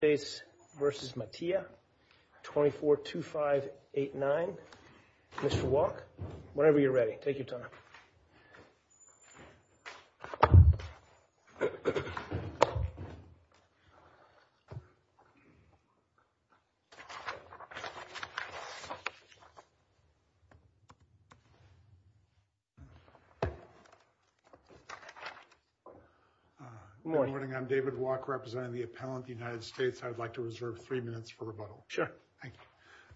face versus Mattia 24 to 589. Mr. Walk whenever you're ready, take your time. Good morning. I'm David walk representing the appellant. The case I'd like to reserve three minutes for rebuttal. Sure. Thank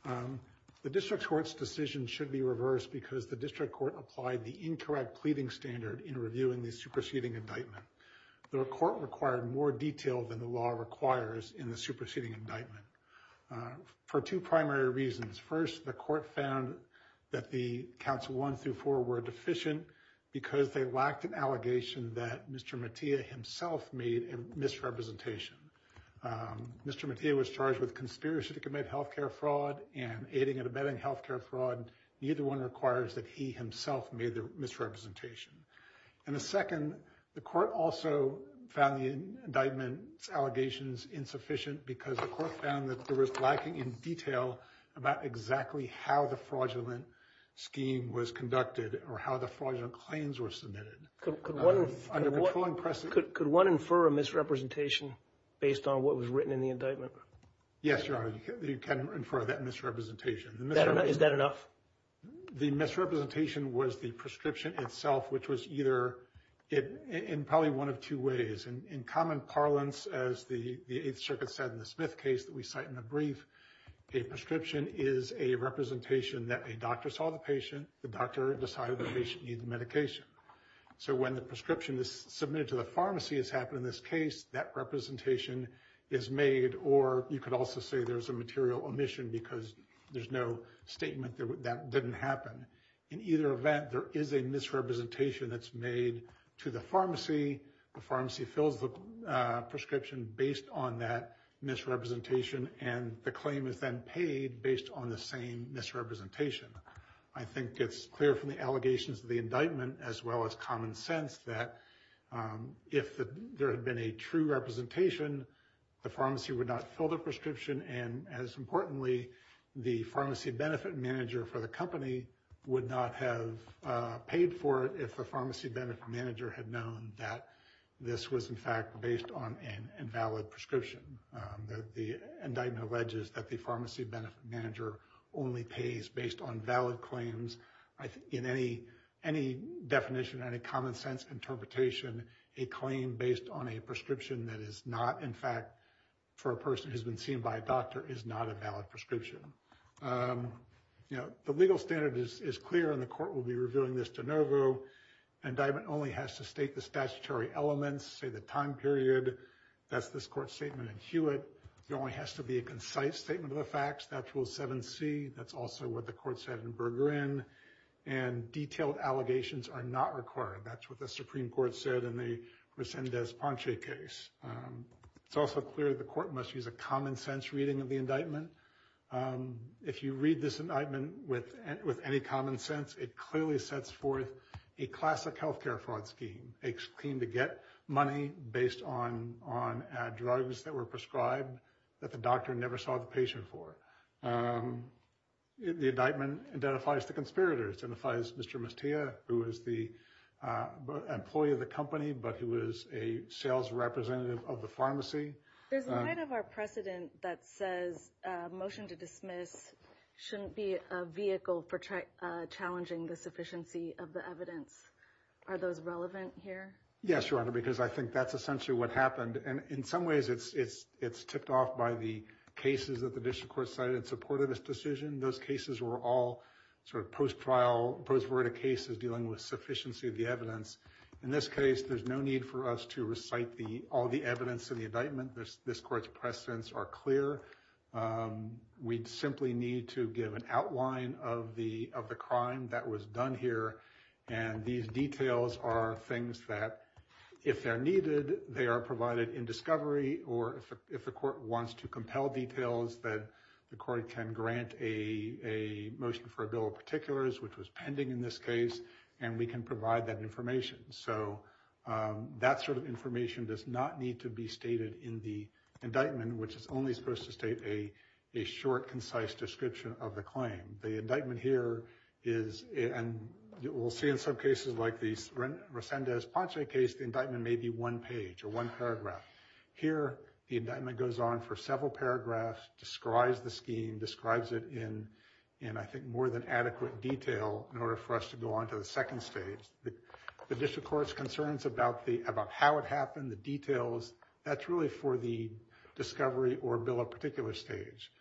you. The district court's decision should be reversed because the district court applied the incorrect pleading standard in reviewing the superseding indictment. The court required more detail than the law requires in the superseding indictment. For two primary reasons. First, the court found that the council one through four were deficient because they lacked an allegation that Mr. Mattia himself made a misrepresentation. Mr. Mattia was charged with conspiracy to commit health care fraud and aiding and abetting health care fraud. Neither one requires that he himself made the misrepresentation. And the second, the court also found the indictment allegations insufficient because the court found that there was lacking in detail about exactly how the fraudulent scheme was conducted or how the fraudulent claims were submitted. Could one infer a misrepresentation based on what was written in the indictment? Yes, your honor. You can infer that misrepresentation. Is that enough? The misrepresentation was the prescription itself, which was either it in probably one of two ways and in common parlance as the 8th Circuit said in the Smith case that we cite in a brief. A prescription is a representation that a doctor saw the patient. The doctor decided the patient needs medication. So when the prescription is submitted to the pharmacy, it's happened in this case that representation is made. Or you could also say there's a material omission because there's no statement that didn't happen. In either event, there is a misrepresentation that's made to the pharmacy. The pharmacy fills the prescription based on that misrepresentation and the claim is then paid based on the same misrepresentation. I think it's clear from the allegations of the indictment as well as common sense that if there had been a true representation, the pharmacy would not fill the prescription and as importantly, the pharmacy benefit manager for the company would not have paid for it if the pharmacy benefit manager had known that this was in fact based on an invalid prescription. The indictment alleges that the pharmacy benefit manager only pays based on valid claims. In any definition, any common sense interpretation, a claim based on a prescription that is not in fact for a person who's been seen by a doctor is not a valid prescription. The legal standard is clear and the court will be reviewing this de novo. Indictment only has to state the statutory elements, say the time period. That's this court statement in Hewitt. There only has to be a concise statement of the facts, that's Rule 7c. That's also what the court said in Berggren. And detailed allegations are not required. That's what the Supreme Court said in the Resendez-Ponche case. It's also clear the court must use a common sense reading of the indictment. If you read this indictment with any common sense, it clearly sets forth a classic health care fraud scheme. A claim to get money based on drugs that were prescribed that the doctor never saw the patient for. The indictment identifies the conspirators. It identifies Mr. Mestia, who is the employee of the company but who is a sales representative of the pharmacy. There's a line of our precedent that says a motion to dismiss shouldn't be a vehicle for challenging the sufficiency of the evidence. Are those relevant here? Yes, Your Honor, because I think that's essentially what happened. And in some ways it's tipped off by the cases that the district court cited in support of this decision. Those cases were all sort of post-trial, post-verdict cases dealing with sufficiency of the evidence. In this case, there's no need for us to recite all the evidence in the indictment. This court's precedents are clear. We simply need to give an outline of the crime that was done here. And these details are things that, if they're needed, they are provided in discovery. Or if the court wants to compel details, then the court can grant a motion for a bill of particulars, which was pending in this case, and we can provide that information. So that sort of information does not need to be stated in the indictment, which is only supposed to state a short, concise description of the claim. The indictment here is, and we'll see in some cases like the Resendez-Ponche case, the indictment may be one page or one paragraph. Here, the indictment goes on for several paragraphs, describes the scheme, describes it in, I think, more than adequate detail in order for us to go on to the second stage. The district court's concerns about how it happened, the details, that's really for the discovery or bill of particulars stage.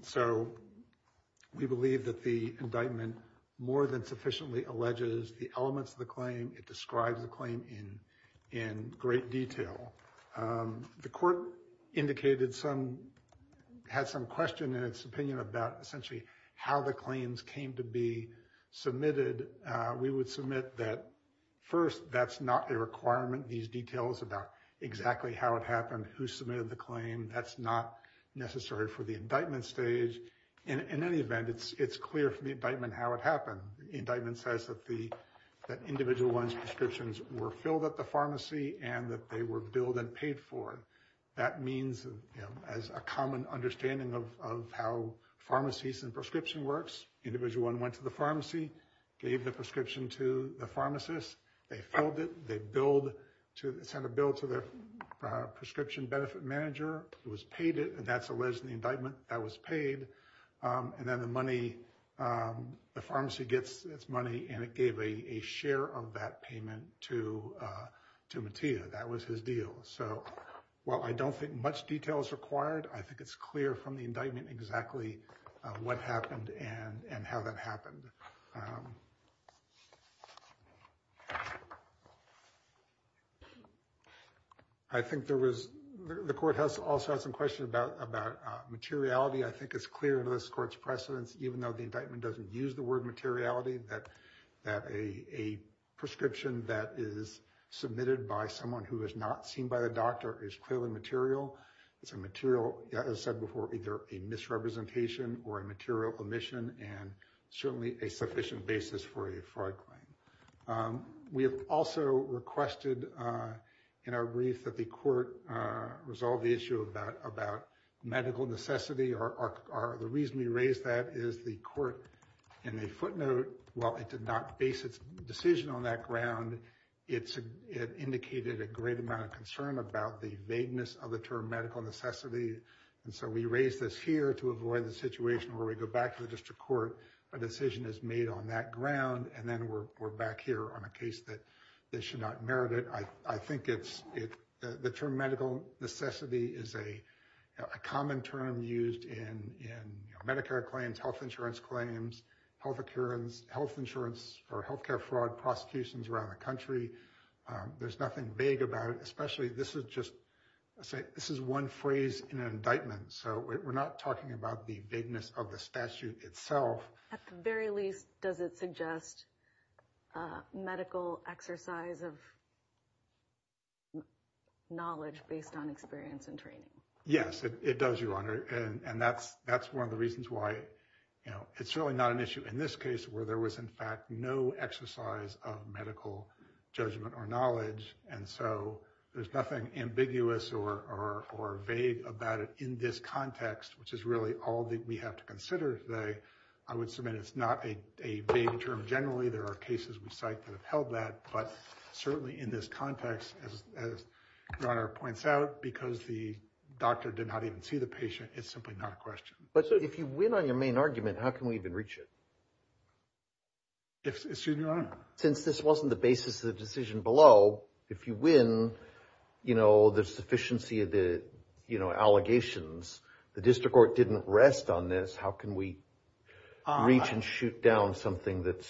So we believe that the indictment more than sufficiently alleges the elements of the claim. It describes the claim in great detail. The court indicated some, had some question in its opinion about essentially how the claims came to be submitted. We would submit that, first, that's not a requirement, these details about exactly how it happened, who submitted the claim, that's not necessary for the indictment stage. In any event, it's clear from the indictment how it happened. The indictment says that the individual one's prescriptions were filled at the pharmacy and that they were billed and paid for. That means, you know, as a common understanding of how pharmacies and prescription works, individual one went to the pharmacy, gave the prescription to the pharmacist, they filled it, they billed, sent a bill to their prescription benefit manager, who has paid it, and that's alleged in the indictment that was paid, and then the money, the pharmacy gets its money and it gave a share of that payment to Mattia, that was his deal. So, while I don't think much detail is required, I think it's clear from the indictment exactly what happened and how that happened. I think there was, the court has also had some questions about materiality. I think it's clear in this court's precedence, even though the indictment doesn't use the word materiality, that a prescription that is submitted by someone who is not seen by the doctor is clearly material. It's a material, as I said before, either a misrepresentation or a material omission and certainly a sufficient basis for a fraud claim. We have also requested in our brief that the court resolve the issue about medical necessity. The reason we raised that is the court, in a footnote, while it did not base its decision on that ground, it indicated a great amount of concern about the vagueness of the term medical necessity, and so we raised this here to avoid the situation where we go back to the district court, a decision is made on that ground, and then we're back here on a case that they should not merit it. I think the term medical necessity is a common term used in Medicare claims, health insurance claims, health insurance for health care fraud prosecutions around the country. There's nothing vague about it, especially this is just, this is one phrase in an indictment, so we're not talking about the vagueness of the statute itself. At the very least, does it suggest medical exercise of knowledge based on experience and training? Yes, it does, Your Honor, and that's one of the reasons why, you know, it's really not an issue in this case where there was, in fact, no exercise of medical judgment or knowledge, and so there's nothing ambiguous or vague about it in this context, which is really all that we have to consider today. I would submit it's not a vague term generally. There are cases we cite that have held that, but certainly in this context, as Your Honor points out, because the doctor did not even see the patient, it's simply not a question. But so if you win on your main argument, how can we even reach it? Excuse me, Your Honor? Since this wasn't the basis of the decision below, if you win, you know, the sufficiency of the, you know, allegations, the district court didn't rest on this, how can we reach and shoot down something that's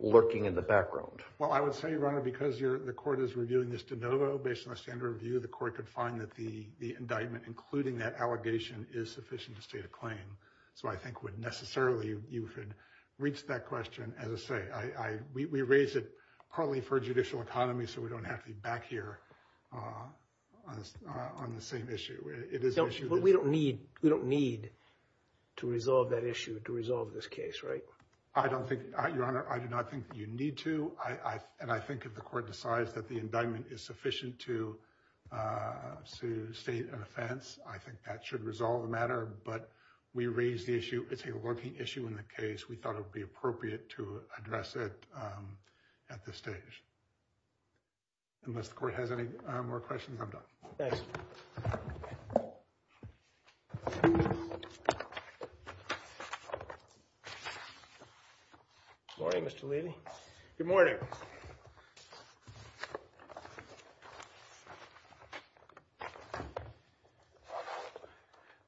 lurking in the background? Well, I would say, Your Honor, because the court is reviewing this de novo based on the standard review, the court could find that the indictment, including that allegation, is sufficient to state a claim. So I think would necessarily, you could reach that question, as I say. We raise it partly for judicial economy, so we don't have to be back here on the same issue. We don't need to resolve that issue to resolve this case, right? I don't think, Your Honor, I do not think you need to. And I think if the court decides that the indictment is sufficient to state an offense, I think that should resolve the matter. But we raise the issue. It's a lurking issue in the case. We thought it would be appropriate to address it at this stage. Unless the court has any more questions, I'm done. Thanks. Good morning, Mr. Levy. Good morning.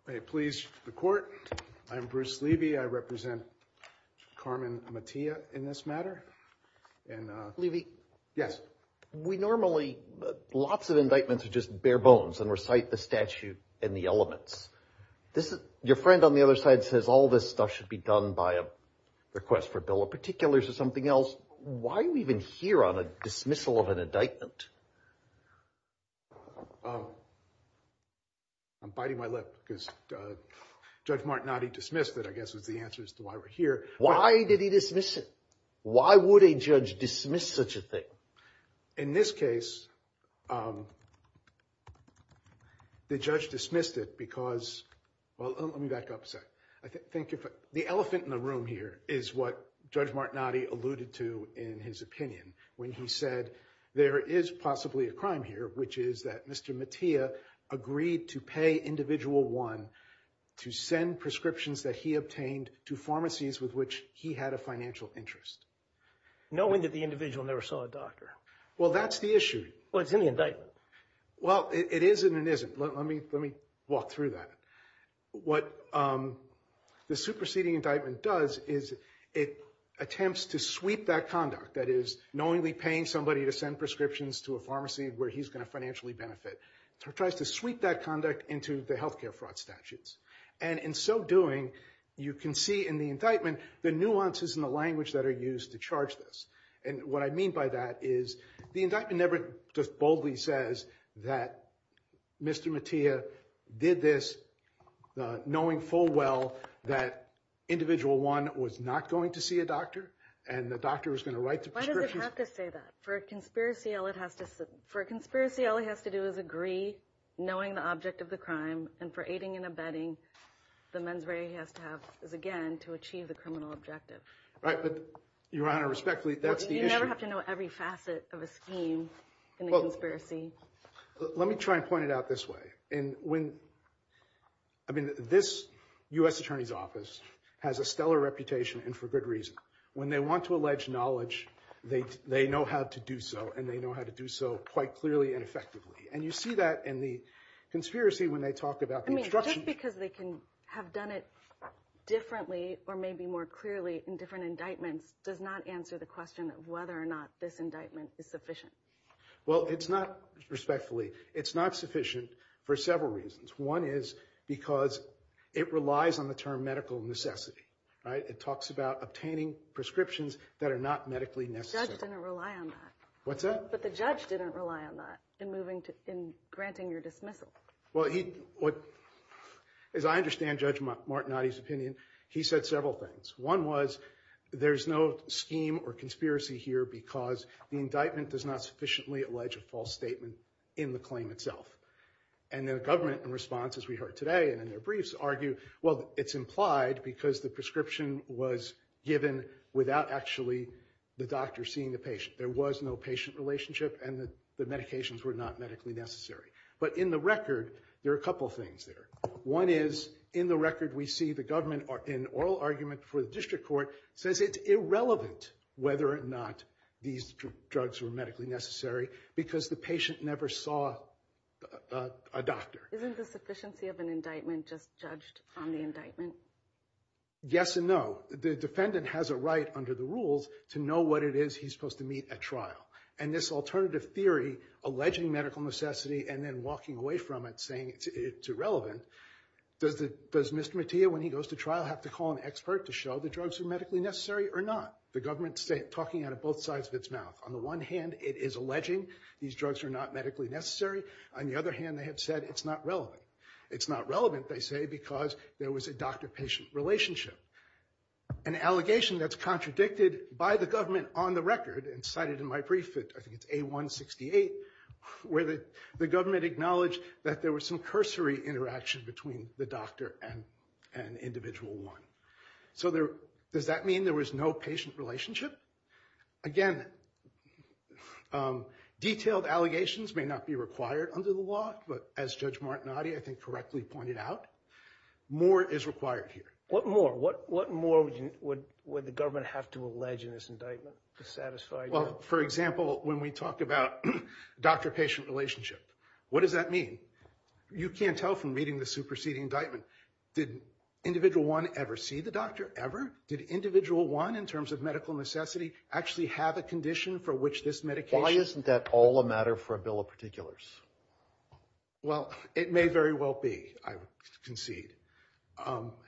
May it please the court, I'm Bruce Levy. I represent Carmen Matia in this matter. And, uh... Levy. Yes. We normally, lots of indictments are just bare bones and recite the statute and the elements. Your friend on the other side says all this stuff should be done by a request for a bill of particulars or something else. Why are we even here on a dismissal of an indictment? I'm biting my lip because Judge Martinotti dismissed it, I guess, was the answer as to why we're here. Why did he dismiss it? Why would a judge dismiss such a thing? In this case, the judge dismissed it because... Well, let me back up a sec. I think if... The elephant in the room here is what Judge Martinotti alluded to in his opinion when he said there is possibly a crime here, which is that Mr. Matia agreed to pay Individual 1 to send prescriptions that he obtained to pharmacies with which he had a financial interest. Knowing that the individual never saw a doctor. Well, that's the issue. Well, it's in the indictment. Well, it is and it isn't. Let me walk through that. What the superseding indictment does is it attempts to sweep that conduct, that is, knowingly paying somebody to send prescriptions to a pharmacy where he's going to financially benefit, tries to sweep that conduct into the health care fraud statutes. And in so doing, you can see in the indictment the nuances in the language that are used to charge this. And what I mean by that is the indictment never just boldly says that Mr. Matia did this knowing full well that Individual 1 was not going to see a doctor and the doctor was going to write the prescriptions. Why does it have to say that? For a conspiracy, all it has to... For a conspiracy, all it has to do is agree, knowing the object of the crime, and for aiding and abetting, the mens rea has to have... Is, again, to achieve the criminal objective. Right, but, Your Honor, respectfully, that's the issue. You never have to know every facet of a scheme in a conspiracy. Let me try and point it out this way. And when... I mean, this U.S. Attorney's Office has a stellar reputation and for good reason. When they want to allege knowledge, they know how to do so, and they know how to do so quite clearly and effectively. And you see that in the conspiracy when they talk about the instruction... Just because they can have done it differently, or maybe more clearly in different indictments, does not answer the question of whether or not this indictment is sufficient. Well, it's not, respectfully, it's not sufficient for several reasons. One is because it relies on the term medical necessity, right? It talks about obtaining prescriptions that are not medically necessary. The judge didn't rely on that. What's that? But the judge didn't rely on that in moving to... in granting your dismissal. Well, he... As I understand Judge Martinotti's opinion, he said several things. One was, there's no scheme or conspiracy here because the indictment does not sufficiently allege a false statement in the claim itself. And the government, in response, as we heard today, and in their briefs, argue, well, it's implied because the prescription was given without actually the doctor seeing the patient. There was no patient relationship and the medications were not medically necessary. But in the record, there are a couple of things there. One is, in the record, we see the government, in oral argument for the district court, says it's irrelevant whether or not these drugs were medically necessary because the patient never saw a doctor. Isn't the sufficiency of an indictment just judged on the indictment? Yes and no. The defendant has a right, under the rules, to know what it is he's supposed to meet at trial. And this alternative theory, alleging medical necessity and then walking away from it saying it's irrelevant, does Mr. Mattia, when he goes to trial, have to call an expert to show the drugs are medically necessary or not? The government's talking out of both sides of its mouth. On the one hand, it is alleging these drugs are not medically necessary. On the other hand, they have said it's not relevant. It's not relevant, they say, because there was a doctor-patient relationship. An allegation that's contradicted by the government on the record and cited in my brief, I think it's A-168, where the government acknowledged that there was some cursory interaction between the doctor and individual one. So does that mean there was no patient relationship? Again, detailed allegations may not be required under the law, but as Judge Martinotti, I think, correctly pointed out, more is required here. What more? What more would the government have to allege in this indictment to satisfy you? Well, for example, when we talk about doctor-patient relationship, what does that mean? You can't tell from reading the superseding indictment. Did individual one ever see the doctor? Ever? Did individual one, in terms of medical necessity, actually have a condition for which this medication... Why isn't that all a matter for a bill of particulars? Well, it may very well be, I concede.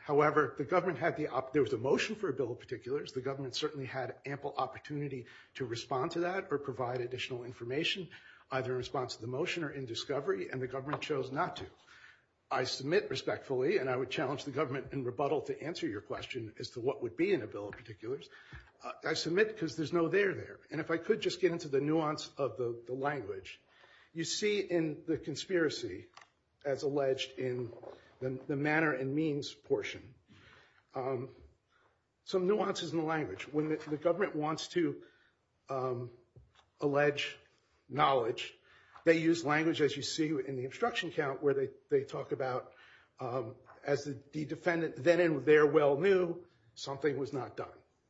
However, the government had the... There was a motion for a bill of particulars. The government certainly had ample opportunity to respond to that or provide additional information, either in response to the motion or in discovery, and the government chose not to. I submit respectfully, and I would challenge the government in rebuttal to answer your question as to what would be in a bill of particulars. I submit because there's no there there. And if I could just get into the nuance of the language. You see in the conspiracy, as alleged in the manner and means portion, some nuances in the language. When the government wants to allege knowledge, they use language, as you see in the obstruction count, where they talk about, as the defendant then and there well knew, something was not done.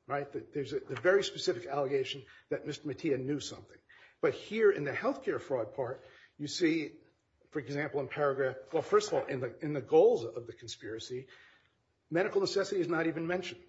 Right? There's a very specific allegation that Mr. Mattia knew something. But here in the healthcare fraud part, you see, for example, in paragraph... Well, first of all, in the goals of the conspiracy, medical necessity is not even mentioned.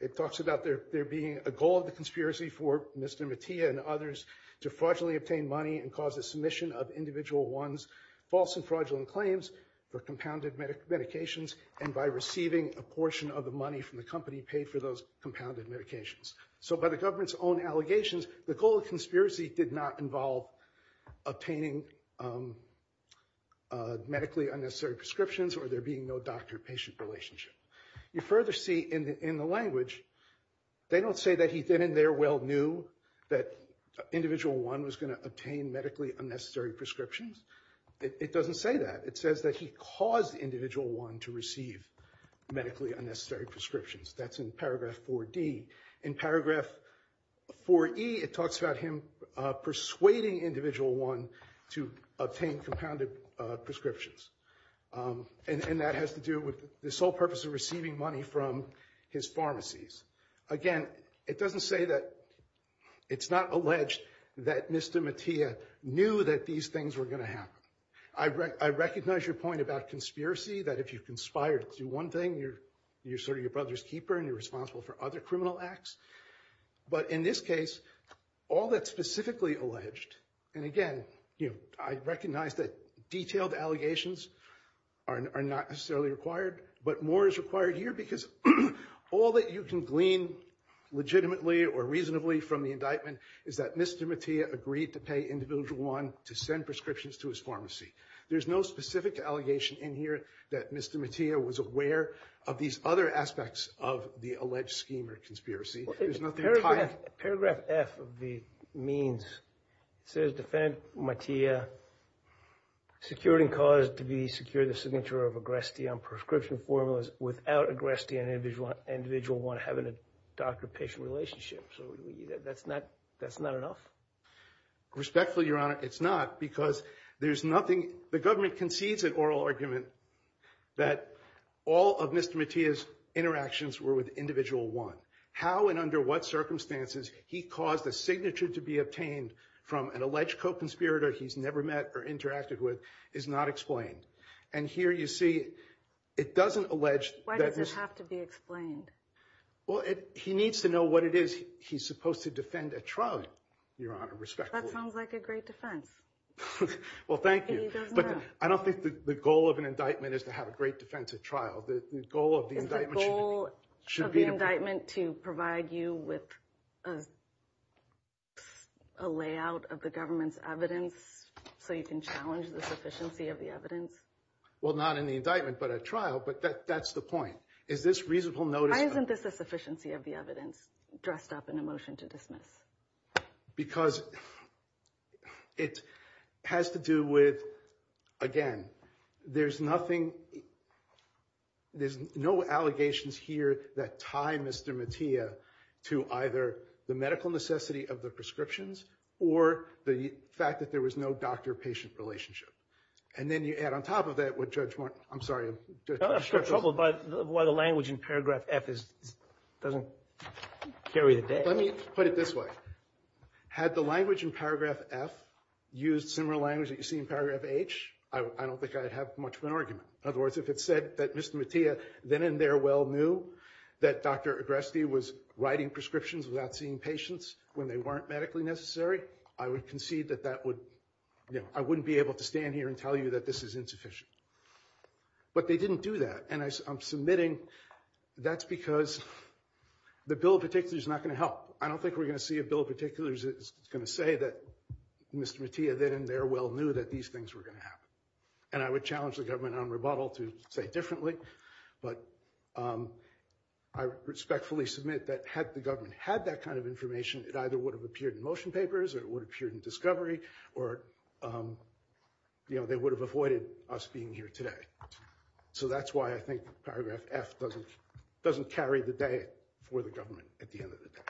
It talks about there being a goal of the conspiracy for Mr. Mattia and others to fraudulently obtain money and cause the submission of individual one's false and fraudulent claims for compounded medications, and by receiving a portion of the money from the company paid for those compounded medications. So by the government's own allegations, the goal of conspiracy did not involve obtaining medically unnecessary prescriptions or there being no doctor-patient relationship. You further see in the language, they don't say that he then and there well knew that individual one was going to obtain medically unnecessary prescriptions. It doesn't say that. It says that he caused individual one to receive medically unnecessary prescriptions. That's in paragraph 4D. In paragraph 4E, it talks about him persuading individual one to obtain compounded prescriptions. And that has to do with the sole purpose of receiving money from his pharmacies. Again, it doesn't say that it's not alleged that Mr. Mattia knew that these things were going to happen. I recognize your point about conspiracy, that if you conspired to do one thing, you're sort of your brother's keeper and you're responsible for other criminal acts. But in this case, all that's specifically alleged, and again, I recognize that detailed allegations are not necessarily required, but more is required here because all that you can glean legitimately or reasonably from the indictment is that Mr. Mattia agreed to pay individual one to send prescriptions to his pharmacy. There's no specific allegation in here that Mr. Mattia was aware of these other aspects of the alleged scheme or conspiracy. There's nothing tied. Paragraph F of the means says defendant Mattia secured and caused to be secured the signature of Agresti on prescription formulas without Agresti and individual one having a doctor-patient relationship. So that's not enough? Respectfully, Your Honor, it's not because there's nothing, the government concedes an oral argument that all of Mr. Mattia's interactions were with individual one. How and under what circumstances he caused a signature to be obtained from an alleged co-conspirator he's never met or interacted with is not explained. And here you see, it doesn't allege- Why does it have to be explained? Well, he needs to know what it is he's supposed to defend at trial, Your Honor, respectfully. That sounds like a great defense. Well, thank you, but I don't think the goal of an indictment is to have a great defense at trial. The goal of the indictment- To provide you with a layout of the government's evidence so you can challenge the sufficiency of the evidence. Well, not in the indictment, but at trial, but that's the point. Is this reasonable notice- Why isn't this a sufficiency of the evidence dressed up in a motion to dismiss? Because it has to do with, again, there's nothing, there's no allegations here that tie Mr. Mattia to either the medical necessity of the prescriptions or the fact that there was no doctor-patient relationship. And then you add on top of that what Judge- I'm sorry- I'm in trouble about why the language in paragraph F doesn't carry the day. Let me put it this way. Had the language in paragraph F used similar language that you see in paragraph H, I don't think I'd have much of an argument. In other words, if it said that Mr. Mattia then and there well knew that Dr. Agresti was writing prescriptions without seeing patients when they weren't medically necessary, I would concede that that would- I wouldn't be able to stand here and tell you that this is insufficient. But they didn't do that. And I'm submitting that's because the bill in particular is not going to help. I don't think we're going to see a bill in particular that's going to say that Mr. Mattia then and there well knew that these things were going to happen. And I would challenge the government on rebuttal to say differently. But I respectfully submit that had the government had that kind of information, it either would have appeared in motion papers or it would have appeared in discovery or they would have avoided us being here today. So that's why I think paragraph F doesn't carry the day for the government at the end of the day.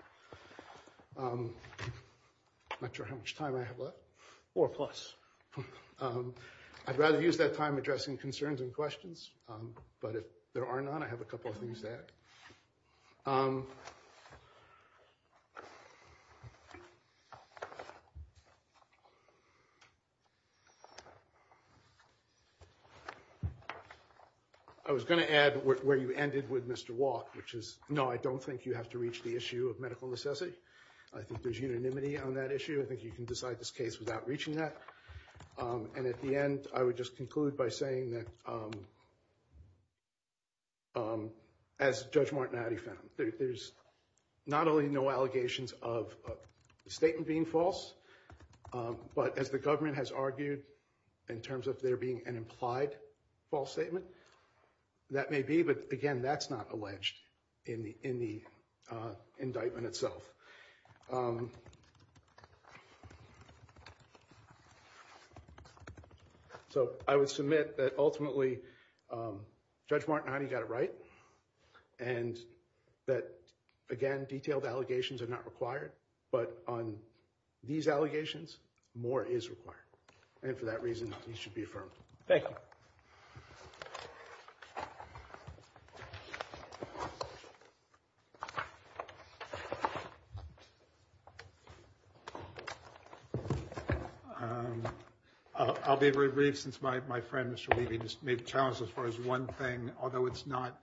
I'm not sure how much time I have left. Four plus. I'd rather use that time addressing concerns and questions. But if there are none, I have a couple of things to add. I was going to add where you ended with Mr. Walke, which is no, I don't think you have to reach the issue of medical necessity. I think there's unanimity on that issue. I think you can decide this case without reaching that. And at the end, I would just conclude by saying that as Judge Martinelli found, there's not only no allegations of the statement being false, but as the government has argued in terms of there being an implied false statement, that may be, but again, that's not alleged in the indictment itself. So I would submit that ultimately, Judge Martinelli got it right. And that, again, detailed allegations are not required. But on these allegations, more is required. And for that reason, these should be affirmed. Thank you. I'll be very brief since my friend, Mr. Levy, just made the challenge as far as one thing, although it's not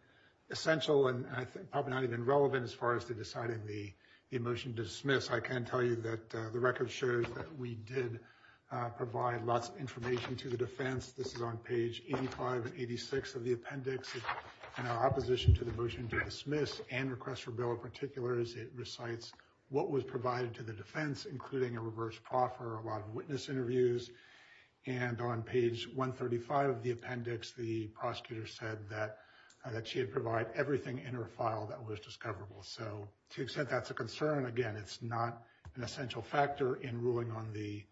essential and I think probably not even relevant as far as to deciding the motion to dismiss. I can tell you that the record shows that we did provide lots of information to the defense. This is on page 85 and 86 of the appendix. And our opposition to the motion to dismiss and request for bill in particular is it recites what was provided to the defense, including a reverse proffer, a lot of witness interviews. And on page 135 of the appendix, the prosecutor said that she had provided everything in her file that was discoverable. So to the extent that's a concern, again, it's not an essential factor in ruling on the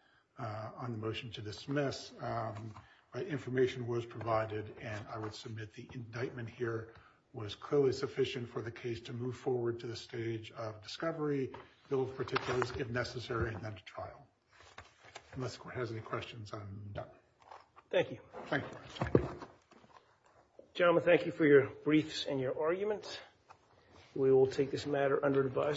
motion to dismiss. Information was provided and I would submit the indictment here was clearly sufficient for the case to move forward to the stage of discovery, bill of particulars if necessary, and then to trial. Unless anyone has any questions, I'm done. Thank you. Gentlemen, thank you for your briefs and your arguments. We will take this matter under advice.